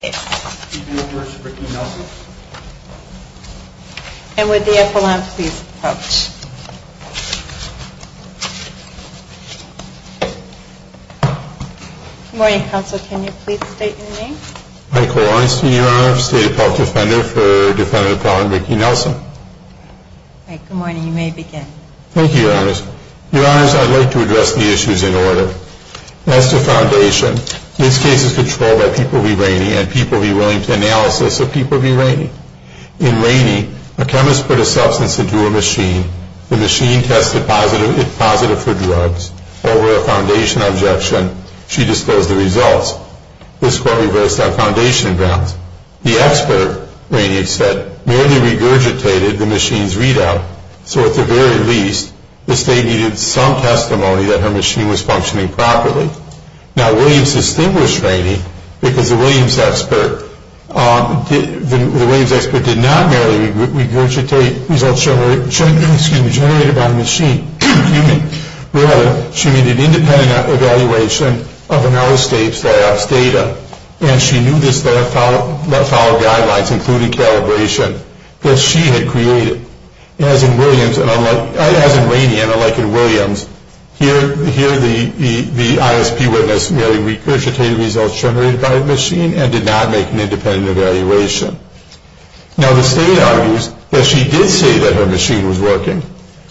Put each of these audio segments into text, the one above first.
Good morning, counsel. Can you please state your name? Michael Orenstein, your honor. State appellate defender for Defendant Appellant Ricky Nelson. Good morning. You may begin. Thank you, your honors. Your honors, I'd like to address the issues in order. As to Foundation, this case is controlled by People v. Rainey and People v. Willington analysis of People v. Rainey. In Rainey, a chemist put a substance into a machine. The machine tested positive for drugs. Over a Foundation objection, she disclosed the results. This court reversed on Foundation grounds. The expert, Rainey had said, merely regurgitated the machine's readout. So at the very least, the state needed some testimony that her machine was functioning properly. Now, Williams distinguished Rainey because the Williams expert did not merely regurgitate results generated by the machine. Rather, she made an independent evaluation of another state's data. And she knew this followed guidelines, including calibration, that she had created. As in Rainey and unlike in Williams, here the ISP witnessed merely regurgitated results generated by the machine and did not make an independent evaluation. Now, the state argues that she did say that her machine was working,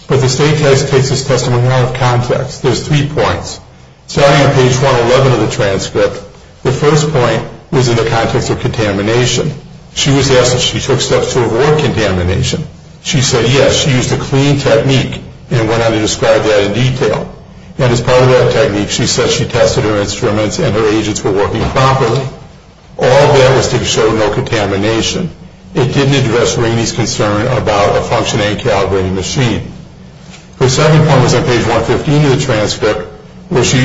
but the state case takes this testimony out of context. There's three points. Starting on page 111 of the transcript, the first point was in the context of contamination. She was asked if she took steps to avoid contamination. She said yes. She used a clean technique and went on to describe that in detail. And as part of that technique, she said she tested her instruments and her agents were working properly. All that was to show no contamination. It didn't address Rainey's concern about a functioning, calibrated machine. The second point was on page 115 of the transcript where she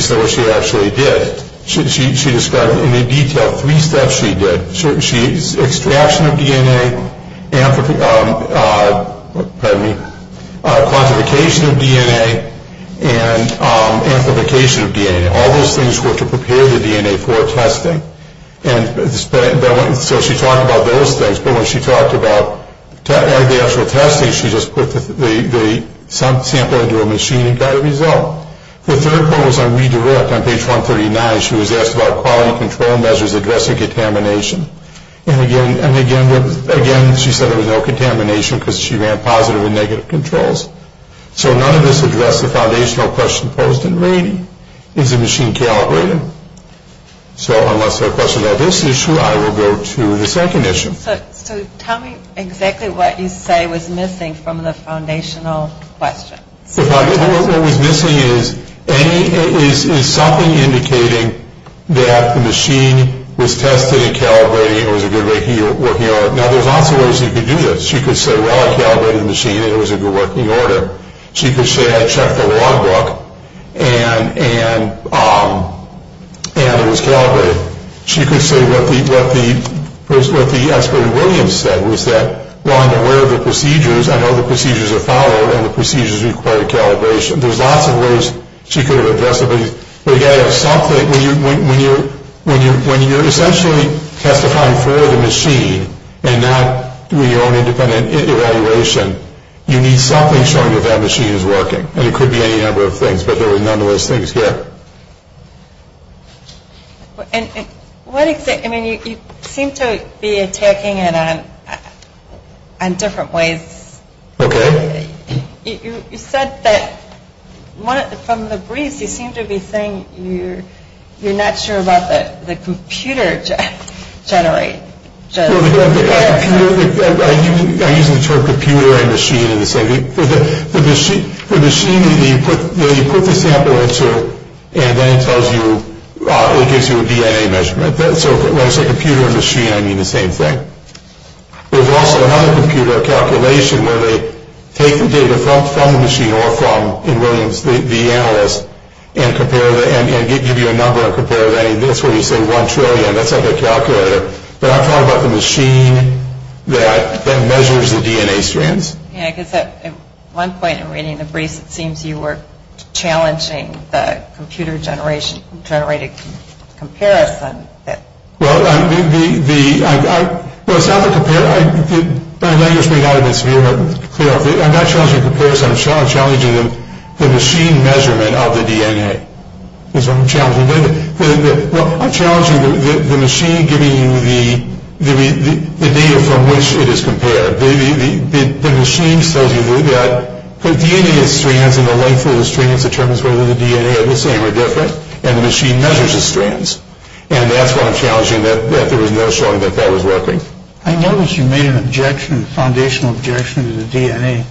said what she actually did. She described in detail three steps she did. Extraction of DNA, quantification of DNA, and amplification of DNA. All those things were to prepare the DNA for testing. So she talked about those things, but when she talked about the actual testing, she just put the sample into a machine and got a result. The third point was on redirect on page 139. She was asked about quality control measures addressing contamination. And again, she said there was no contamination because she ran positive and negative controls. So none of this addressed the foundational question posed in Rainey. Is the machine calibrated? So unless there are questions on this issue, I will go to the second issue. So tell me exactly what you say was missing from the foundational question. What was missing is something indicating that the machine was tested and calibrated and was a good working order. Now, there's lots of ways you could do this. She could say, well, I calibrated the machine and it was a good working order. She could say I checked the log book and it was calibrated. She could say what the expert in Williams said was that, well, I'm aware of the procedures. I know the procedures are followed and the procedures require calibration. There's lots of ways she could have addressed it. But again, when you're essentially testifying for the machine and not doing your own independent evaluation, you need something showing that that machine is working. And it could be any number of things. But there were none of those things here. I mean, you seem to be attacking it on different ways. Okay. You said that from the briefs you seem to be saying you're not sure about the computer generate. I'm using the term computer and machine in the same thing. The machine that you put the sample into and then it tells you, it gives you a DNA measurement. So when I say computer and machine, I mean the same thing. There's also another computer calculation where they take the data from the machine or from, in Williams, the analyst, and give you a number and compare that. And that's where you say one trillion. That's like a calculator. But I'm talking about the machine that measures the DNA strands. Yeah, because at one point in reading the briefs, it seems you were challenging the computer-generated comparison. Well, I'm not challenging comparison. I'm challenging the machine measurement of the DNA is what I'm challenging. Well, I'm challenging the machine giving you the data from which it is compared. The machine tells you that the DNA strands and the length of the strands determines whether the DNA are the same or different, and the machine measures the strands. And that's what I'm challenging, that there was no showing that that was working. I noticed you made an objection, a foundational objection, to the DNA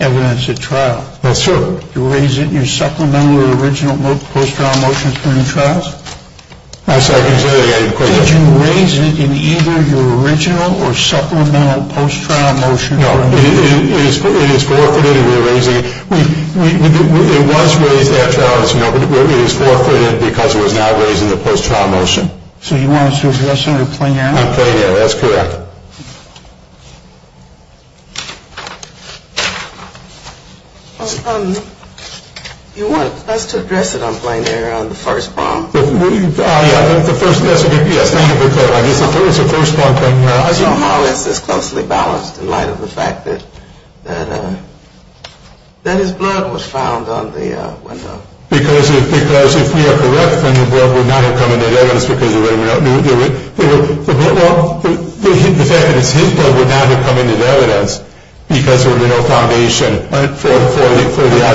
evidence at trial. That's true. Did you raise it in your supplemental or original post-trial motions during the trials? I'm sorry. Can you say that again? Did you raise it in either your original or supplemental post-trial motion? No. It is forfeited, and we're raising it. It was raised at trial. It is forfeited because it was not raised in the post-trial motion. So you want us to address it under plain air? I'm playing it. That's correct. You want us to address it on plain air on the first bomb? Yes, thank you for clarifying. It's a first bomb. Somehow it's this closely balanced in light of the fact that his blood was found on the window. Because if we are correct, then his blood would not have come into evidence because there would have been no foundation.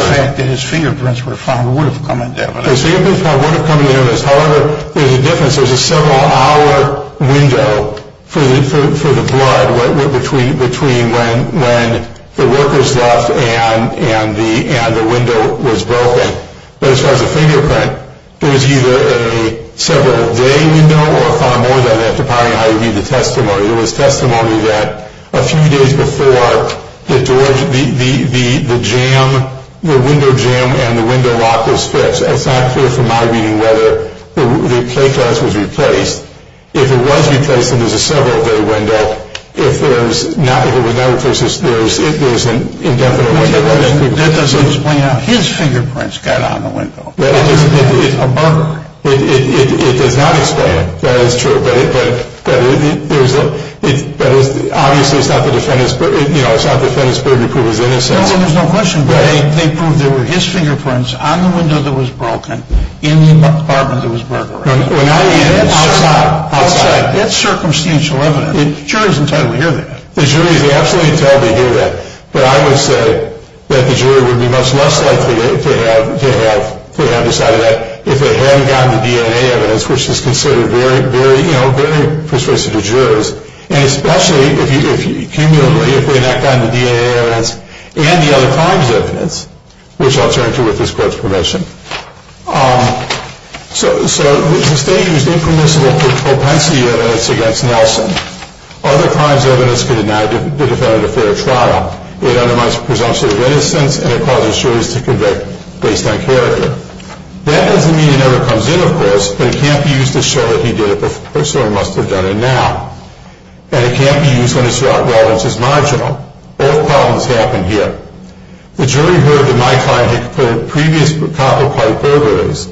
The fact that his fingerprints were found would have come into evidence. His fingerprints would have come into evidence. However, there's a difference. for the blood between when the workers left and the window was broken. But as far as the fingerprint, it was either a several-day window or far more than that, depending on how you read the testimony. There was testimony that a few days before the window jam and the window lock was fixed. It's not clear from my reading whether the plate glass was replaced. If it was replaced, then there's a several-day window. If it was not replaced, then there's an indefinite window. That doesn't explain how his fingerprints got on the window. It's a burger. It does not explain it. That is true. Obviously, it's not the defendant's burden to prove his innocence. There's no question. They proved there were his fingerprints on the window that was broken, in the apartment that was burglarized. Outside. That's circumstantial evidence. The jury is entitled to hear that. The jury is absolutely entitled to hear that. But I would say that the jury would be much less likely to have decided that if they hadn't gotten the DNA evidence, which is considered very persuasive to jurors. And especially, cumulatively, if they had not gotten the DNA evidence and the other crimes evidence, which I'll turn to with this court's permission. So the state used impermissible propensity evidence against Nelson. Other crimes evidence could deny the defendant a fair trial. It undermines presumption of innocence, and it causes juries to convict based on character. But it can't be used to show that he did it before, so he must have done it now. And it can't be used when it's thought, well, it's just marginal. Both problems happen here. The jury heard that my client had committed previous copper pipe burglaries.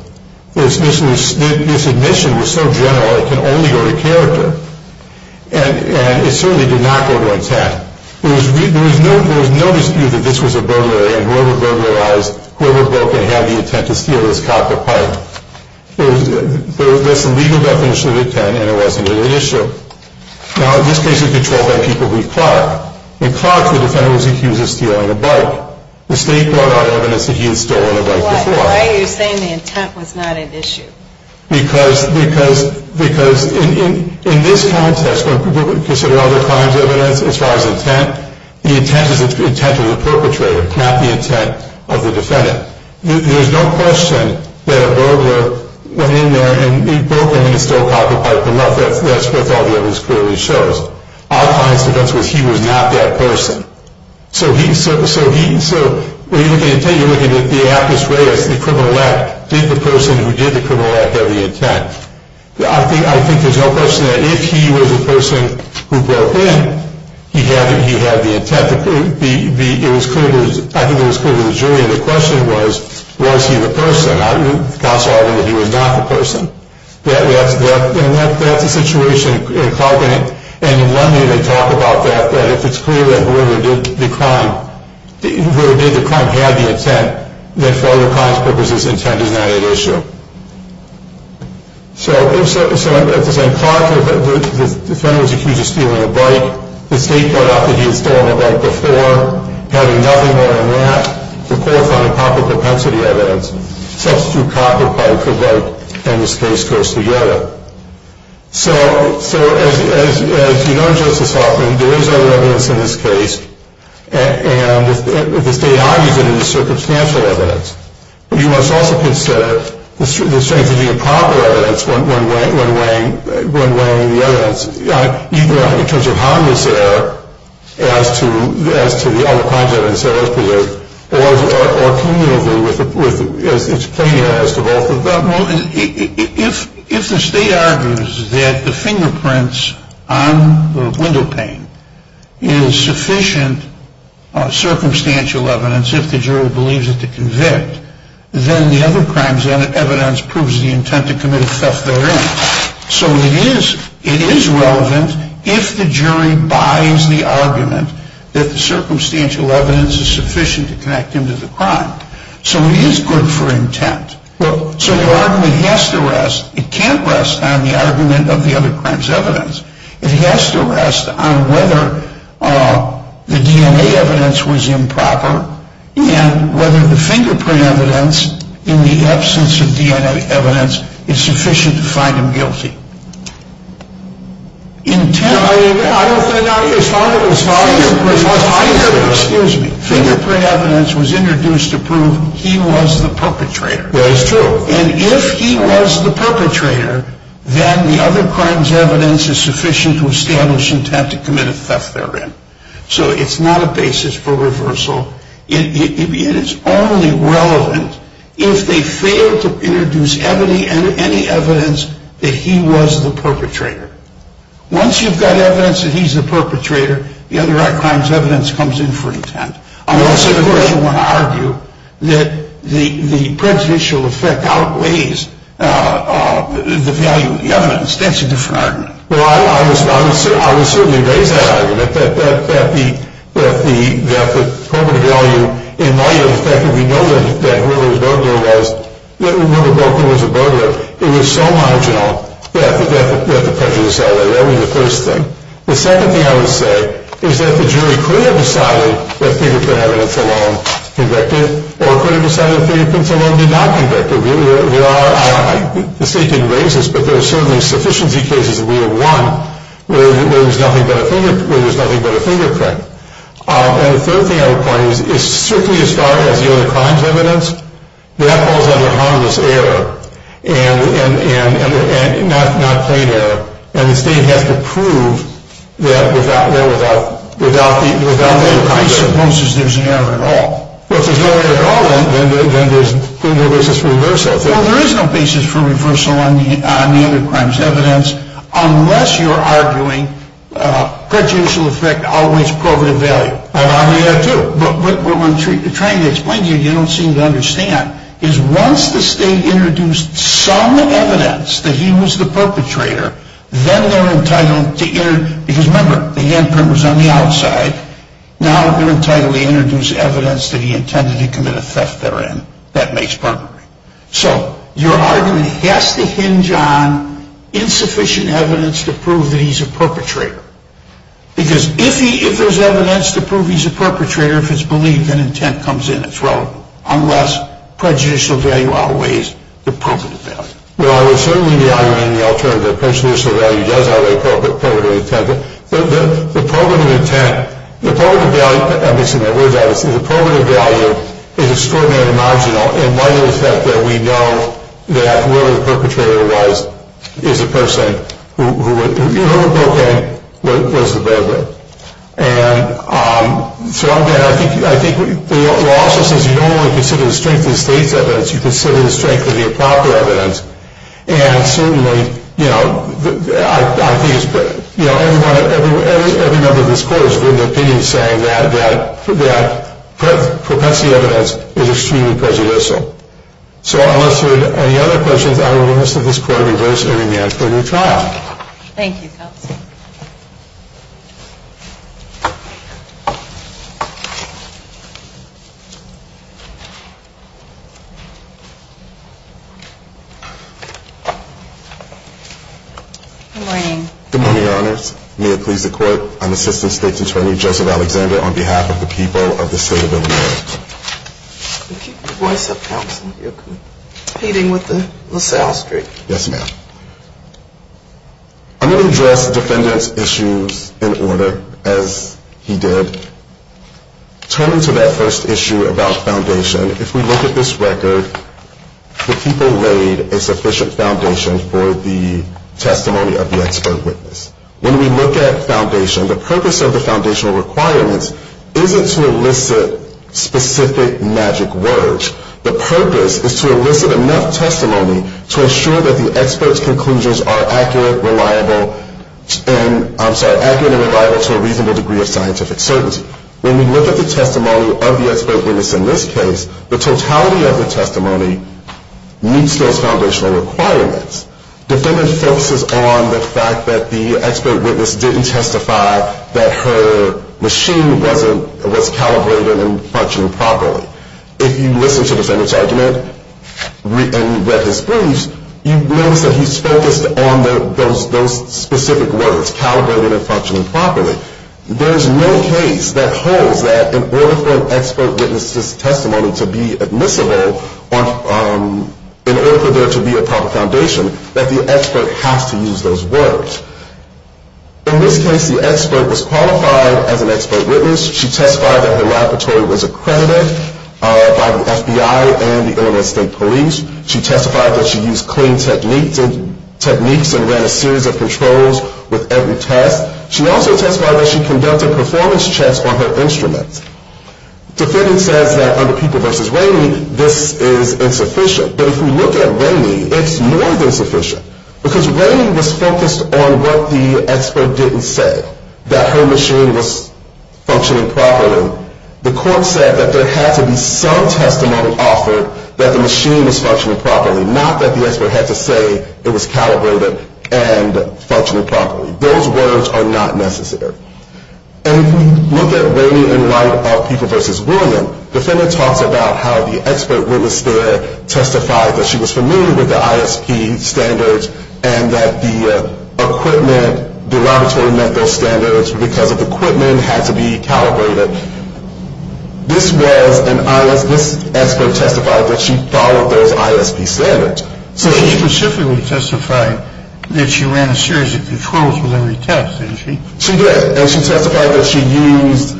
This admission was so general, it can only go to character. And it certainly did not go to intent. There was no dispute that this was a burglary, and whoever burglarized, whoever broke it had the intent to steal this copper pipe. That's the legal definition of intent, and it wasn't an issue. Now, in this case, it's controlled by people who've clarked. When clarked, the defendant was accused of stealing a bike. The state brought out evidence that he had stolen a bike before. Why are you saying the intent was not an issue? Because in this context, when people consider other crimes evidence as far as intent, the intent is the intent of the perpetrator, not the intent of the defendant. There's no question that a burglar went in there and he broke into a stolen copper pipe. That's what all the evidence clearly shows. Our client's defense was he was not that person. So when you're looking at intent, you're looking at the apus reus, the criminal act. Did the person who did the criminal act have the intent? I think there's no question that if he was the person who broke in, he had the intent. I think it was clear to the jury, and the question was, was he the person? The counsel argued that he was not the person. And that's a situation in clarking. And in one way, they talk about that, that if it's clear that whoever did the crime had the intent, then for other crimes purposes, intent is not at issue. So at the same time, the defendant was accused of stealing a bike. The state brought up that he had stolen a bike before. Having nothing more than that to qualify proper propensity evidence, substitute copper pipe for bike, and this case goes together. So as you know, Justice Hoffman, there is other evidence in this case, and the state argues that it is circumstantial evidence. You must also consider the strength of the improper evidence when weighing the evidence. In terms of harmless error as to the other crimes evidence that was presented, or communively as it's plain as to both of them. If the state argues that the fingerprints on the windowpane is sufficient circumstantial evidence, if the jury believes it to convict, then the other crimes evidence proves the intent to commit a theft therein. So it is relevant if the jury buys the argument that the circumstantial evidence is sufficient to connect him to the crime. So it is good for intent. So the argument has to rest, it can't rest on the argument of the other crimes evidence. It has to rest on whether the DNA evidence was improper, and whether the fingerprint evidence in the absence of DNA evidence is sufficient to find him guilty. Intent. I don't think. Excuse me. Fingerprint evidence was introduced to prove he was the perpetrator. That is true. And if he was the perpetrator, then the other crimes evidence is sufficient to establish the intent to commit a theft therein. So it's not a basis for reversal. It is only relevant if they fail to introduce any evidence that he was the perpetrator. Once you've got evidence that he's the perpetrator, the other crimes evidence comes in for intent. Unless, of course, you want to argue that the prejudicial effect outweighs the value of the evidence. That's a different argument. Well, I would certainly raise that argument, that the perpetrator value in light of the fact that we know that whoever the burglar was, that whoever broke in was a burglar, it was so marginal that the prejudice outweighed it. That would be the first thing. The second thing I would say is that the jury could have decided that fingerprint evidence alone convicted, or could have decided that fingerprint alone did not convict him. The state didn't raise this, but there are certainly sufficiency cases that we have won where there's nothing but a fingerprint. And the third thing I would point out is strictly as far as the other crimes evidence, that falls under harmless error and not plain error. And the state has to prove that without the other crimes evidence. I suppose there's no error at all. Well, if there's no error at all, then there's no basis for reversal. Well, there is no basis for reversal on the other crimes evidence, unless you're arguing prejudicial effect outweighs probative value. I'm arguing that too. But what I'm trying to explain to you, you don't seem to understand, is once the state introduced some evidence that he was the perpetrator, then they're entitled to, because remember, the handprint was on the outside, now they're entitled to introduce evidence that he intended to commit a theft therein. That makes perfect sense. So your argument has to hinge on insufficient evidence to prove that he's a perpetrator. Because if there's evidence to prove he's a perpetrator, if it's believed, then intent comes in. It's relevant. Unless prejudicial value outweighs the probative value. Well, I would certainly be arguing the alternative. Prejudicial value does outweigh probative intent. The probative intent, the probative value, I'm mixing my words up, the probative value is extraordinarily marginal in light of the fact that we know that whoever the perpetrator was is a person who, even if it broke in, was the burglar. And so, again, I think the law also says you don't only consider the strength of the state's evidence, you consider the strength of the improper evidence. And certainly, you know, I think every member of this court is in the opinion saying that propensity evidence is extremely prejudicial. So unless there are any other questions, I will ask that this court reverse and remand for a new trial. Thank you, counsel. Good morning. Good morning, Your Honors. May it please the court, I'm Assistant State's Attorney Joseph Alexander, on behalf of the people of the state of Illinois. Keep your voice up, counsel. You're competing with the LaSalle Street. Yes, ma'am. I'm going to address defendants' issues in order, as he did. Turning to that first issue about foundation, if we look at this record, the people laid a sufficient foundation for the testimony of the expert witness. When we look at foundation, the purpose of the foundational requirements isn't to elicit specific magic words. The purpose is to elicit enough testimony to ensure that the expert's conclusions are accurate, reliable, and I'm sorry, accurate and reliable to a reasonable degree of scientific certainty. When we look at the testimony of the expert witness in this case, the totality of the testimony meets those foundational requirements. Defendant focuses on the fact that the expert witness didn't testify that her machine was calibrated and functioning properly. If you listen to defendant's argument and read his briefs, you notice that he's focused on those specific words, calibrated and functioning properly. There's no case that holds that in order for an expert witness' testimony to be admissible, in order for there to be a proper foundation, that the expert has to use those words. In this case, the expert was qualified as an expert witness. She testified that her laboratory was accredited by the FBI and the Illinois State Police. She testified that she used clean techniques and ran a series of controls with every test. She also testified that she conducted performance checks on her instruments. Defendant says that under People v. Ramey, this is insufficient. But if we look at Ramey, it's more than sufficient. Because Ramey was focused on what the expert didn't say, that her machine was functioning properly. The court said that there had to be some testimony offered that the machine was functioning properly, not that the expert had to say it was calibrated and functioning properly. Those words are not necessary. And if we look at Ramey in light of People v. William, defendant talks about how the expert witness there testified that she was familiar with the ISP standards and that the equipment, the laboratory met those standards because the equipment had to be calibrated. This was an ISP, this expert testified that she followed those ISP standards. So she specifically testified that she ran a series of controls with every test, didn't she? She did. And she testified that she used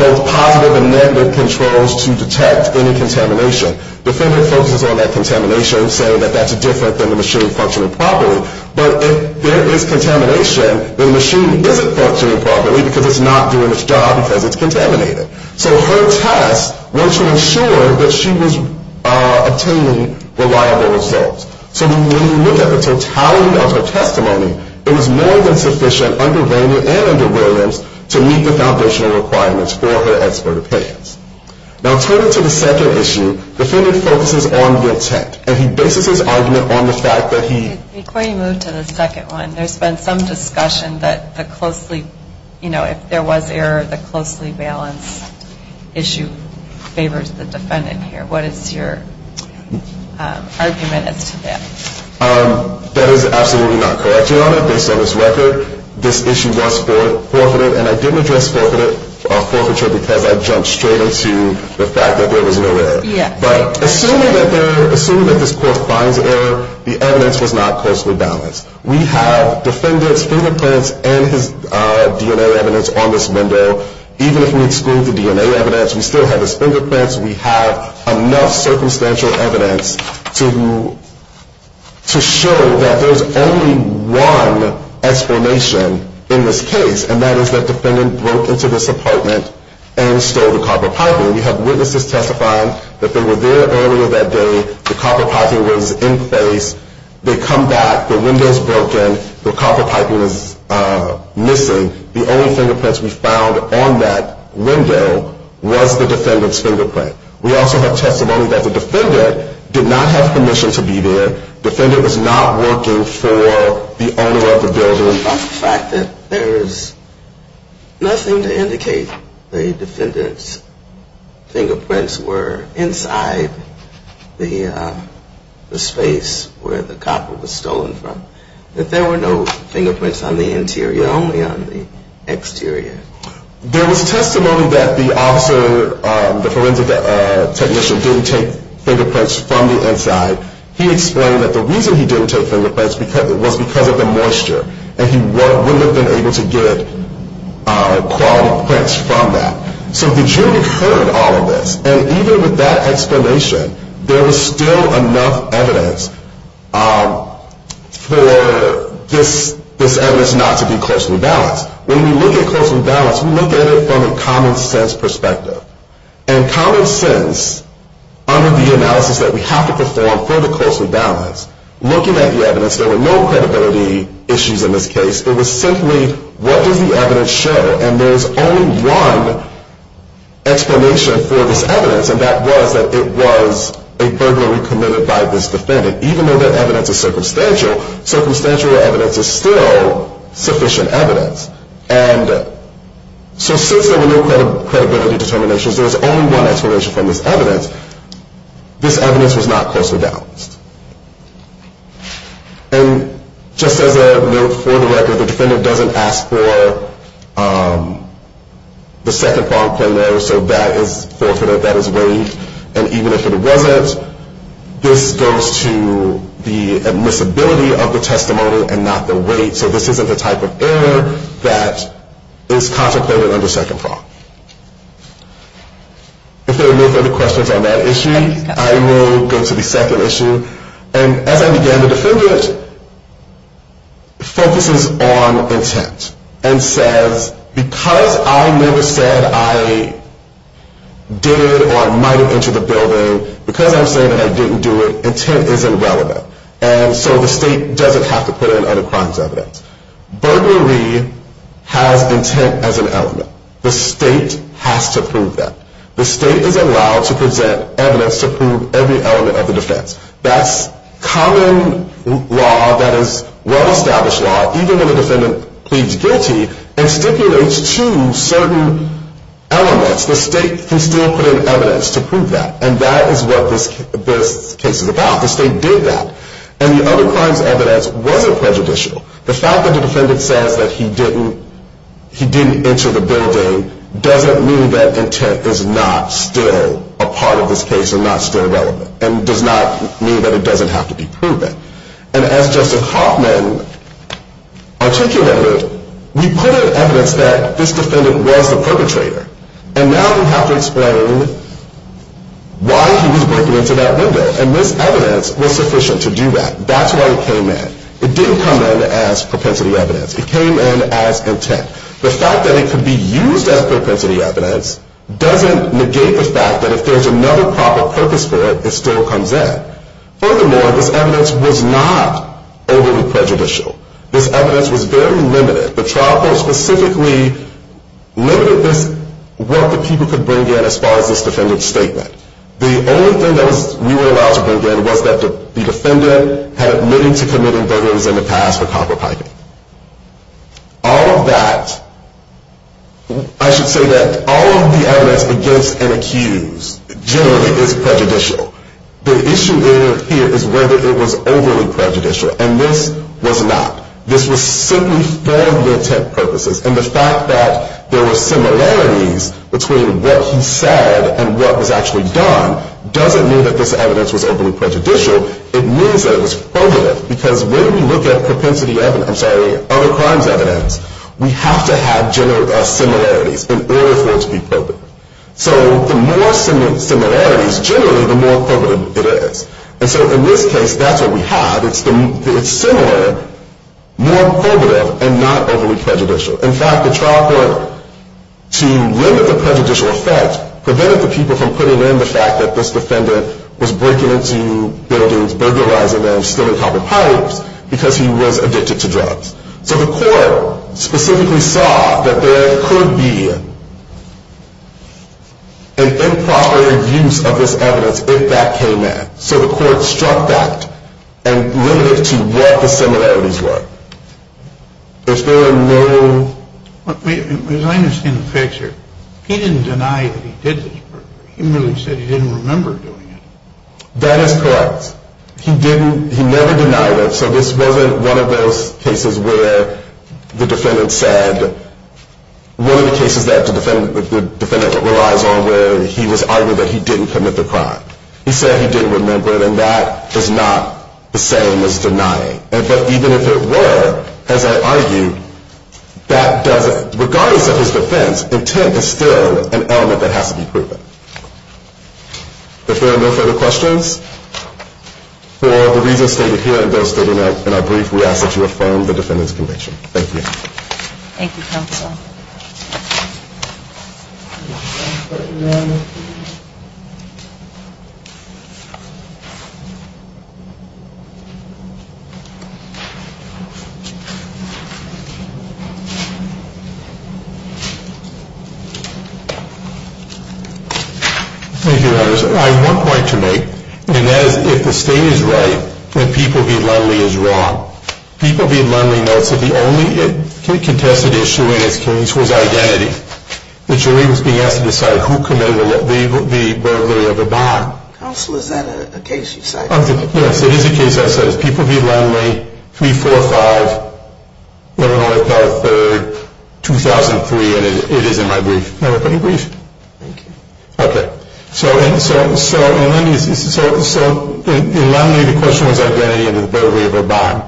both positive and negative controls to detect any contamination. Defendant focuses on that contamination, saying that that's different than the machine functioning properly. But if there is contamination, the machine isn't functioning properly because it's not doing its job because it's contaminated. So her test was to ensure that she was obtaining reliable results. So when you look at the totality of her testimony, it was more than sufficient under Ramey and under Williams to meet the foundational requirements for her expert opinions. Now turning to the second issue, defendant focuses on the intent, and he bases his argument on the fact that he Before you move to the second one, there's been some discussion that the closely, you know, if there was error, the closely balanced issue favors the defendant here. What is your argument as to that? That is absolutely not correct, Your Honor. Based on this record, this issue was forfeited, and I didn't address forfeiture because I jumped straight into the fact that there was no error. Yes. But assuming that this court finds error, the evidence was not closely balanced. We have defendant's fingerprints and his DNA evidence on this window. Even if we exclude the DNA evidence, we still have his fingerprints. We have enough circumstantial evidence to show that there's only one explanation in this case, and that is that defendant broke into this apartment and stole the copper piping. We have witnesses testifying that they were there earlier that day. The copper piping was in place. They come back. The window is broken. The copper piping is missing. The only fingerprints we found on that window was the defendant's fingerprint. We also have testimony that the defendant did not have permission to be there. Defendant was not working for the owner of the building. Based on the fact that there's nothing to indicate the defendant's fingerprints were inside the space where the copper was stolen from, that there were no fingerprints on the interior, only on the exterior? There was testimony that the officer, the forensic technician, didn't take fingerprints from the inside. He explained that the reason he didn't take fingerprints was because of the moisture, and he wouldn't have been able to get quality prints from that. So the jury heard all of this, and even with that explanation, there was still enough evidence for this evidence not to be closely balanced. When we look at closely balanced, we look at it from a common sense perspective. And common sense, under the analysis that we have to perform for the closely balanced, looking at the evidence, there were no credibility issues in this case. It was simply, what does the evidence show? And there was only one explanation for this evidence, and that was that it was a burglary committed by this defendant. Even though that evidence is circumstantial, circumstantial evidence is still sufficient evidence. And so since there were no credibility determinations, there was only one explanation from this evidence. This evidence was not closely balanced. And just as a note for the record, the defendant doesn't ask for the second bond claim letter, so that is forfeited, that is waived. And even if it wasn't, this goes to the admissibility of the testimony and not the weight, so this isn't the type of error that is contemplated under second fraud. If there are no further questions on that issue, I will go to the second issue. And as I began to defend it, it focuses on intent and says, because I never said I did or might have entered the building, because I'm saying that I didn't do it, intent isn't relevant. And so the state doesn't have to put in other crimes evidence. Burglary has intent as an element. The state has to prove that. The state is allowed to present evidence to prove every element of the defense. That's common law that is well-established law, even when the defendant pleads guilty and stipulates two certain elements, the state can still put in evidence to prove that. And that is what this case is about. The state did that. And the other crimes evidence wasn't prejudicial. The fact that the defendant says that he didn't enter the building doesn't mean that intent is not still a part of this case and not still relevant and does not mean that it doesn't have to be proven. And as Justice Hoffman articulated, we put in evidence that this defendant was the perpetrator. And now we have to explain why he was breaking into that window. And this evidence was sufficient to do that. That's why it came in. It didn't come in as propensity evidence. It came in as intent. The fact that it could be used as propensity evidence doesn't negate the fact that if there's another proper purpose for it, it still comes in. Furthermore, this evidence was not overly prejudicial. This evidence was very limited. The trial court specifically limited this, what the people could bring in as far as this defendant's statement. The only thing that we were allowed to bring in was that the defendant had admitted to committing burglars in the past for copper piping. All of that, I should say that all of the evidence against and accused generally is prejudicial. The issue here is whether it was overly prejudicial. And this was not. This was simply for the intent purposes. And the fact that there were similarities between what he said and what was actually done doesn't mean that this evidence was overly prejudicial. It means that it was probative because when we look at propensity evidence, I'm sorry, other crimes evidence, we have to have general similarities in order for it to be probative. So the more similarities generally, the more probative it is. And so in this case, that's what we have. It's similar, more probative, and not overly prejudicial. In fact, the trial court, to limit the prejudicial effect, prevented the people from putting in the fact that this defendant was breaking into buildings, burglarizing them, stealing copper pipes because he was addicted to drugs. So the court specifically saw that there could be an improper use of this evidence if that came in. So the court struck that and limited it to what the similarities were. If there were no... As I understand the picture, he didn't deny that he did this burglary. He merely said he didn't remember doing it. That is correct. He never denied it. So this wasn't one of those cases where the defendant said, one of the cases that the defendant relies on where he was arguing that he didn't commit the crime. He said he didn't remember it, and that is not the same as denying. But even if it were, as I argued, that doesn't... Regardless of his defense, intent is still an element that has to be proven. If there are no further questions, for the reasons stated here and those stated in our brief, we ask that you affirm the defendant's conviction. Thank you. Thank you, counsel. Thank you, Your Honor. I have one point to make, and that is if the state is right, then people being lonely is wrong. People being lonely notes that the only contested issue in this case was identity. That you're only being asked to decide who committed the burglary of a bond. Counsel, is that a case you cite? Okay. So in Lonely, the question was identity and the burglary of a bond.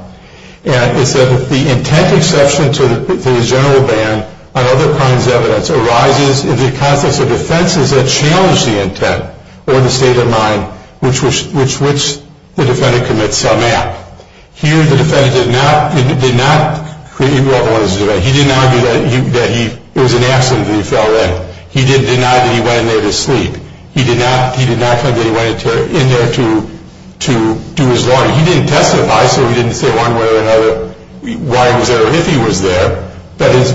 And it said that the intent exception to the general ban on other crimes evidence arises in the context of offenses that challenge the intent or the state of mind which the defendant commits some act. Here the defendant did not... He didn't argue that it was an accident that he fell in. He did deny that he went in there to sleep. He did not claim that he went in there to do his laundry. He didn't testify, so he didn't say one way or another why he was there or if he was there. But his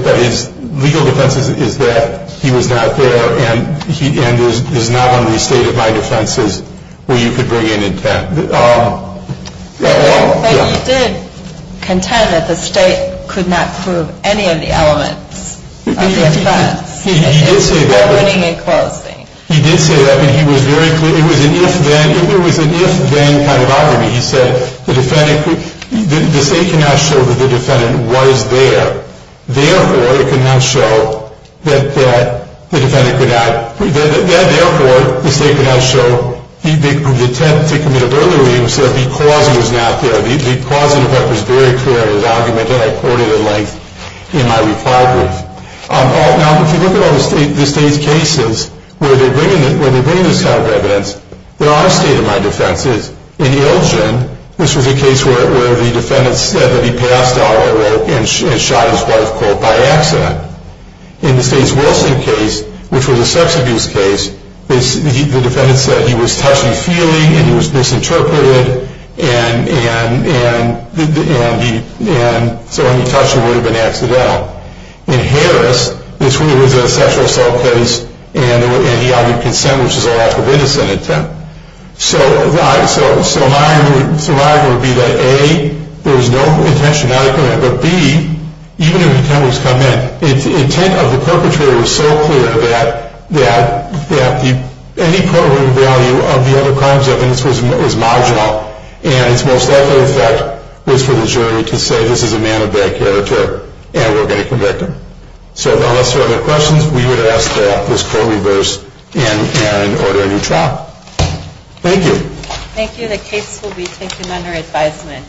legal defense is that he was not there and is not on the state of mind offenses where you could bring in intent. But he did contend that the state could not prove any of the elements of the offense. He did say that. He did say that, and he was very clear. It was an if-then kind of argument. He said the state cannot show that the defendant was there. Therefore, it could not show that the defendant could not... Therefore, the state could not show the intent to commit a burglary because he was not there, because of what was very clear in his argument that I quoted in length in my reply brief. Now, if you look at all the state's cases where they're bringing this type of evidence, there are state of mind offenses. In Ilgen, this was a case where the defendant said that he passed out and shot his wife, quote, by accident. In the Stace Wilson case, which was a sex abuse case, the defendant said he was touching, feeling, and he was misinterpreted, and so when he touched her, it would have been accidental. In Harris, this was a sexual assault case, and he argued consent, which is a lack of innocent intent. So my argument would be that, A, there was no intentional intent, but, B, even if intent was come in, the intent of the perpetrator was so clear that any courtroom value of the other crimes evidence was marginal, and its most likely effect was for the jury to say this is a man of bad character and we're going to convict him. So unless there are other questions, we would ask that this court reverse and order a new trial. Thank you. Thank you. The case will be taken under advisement.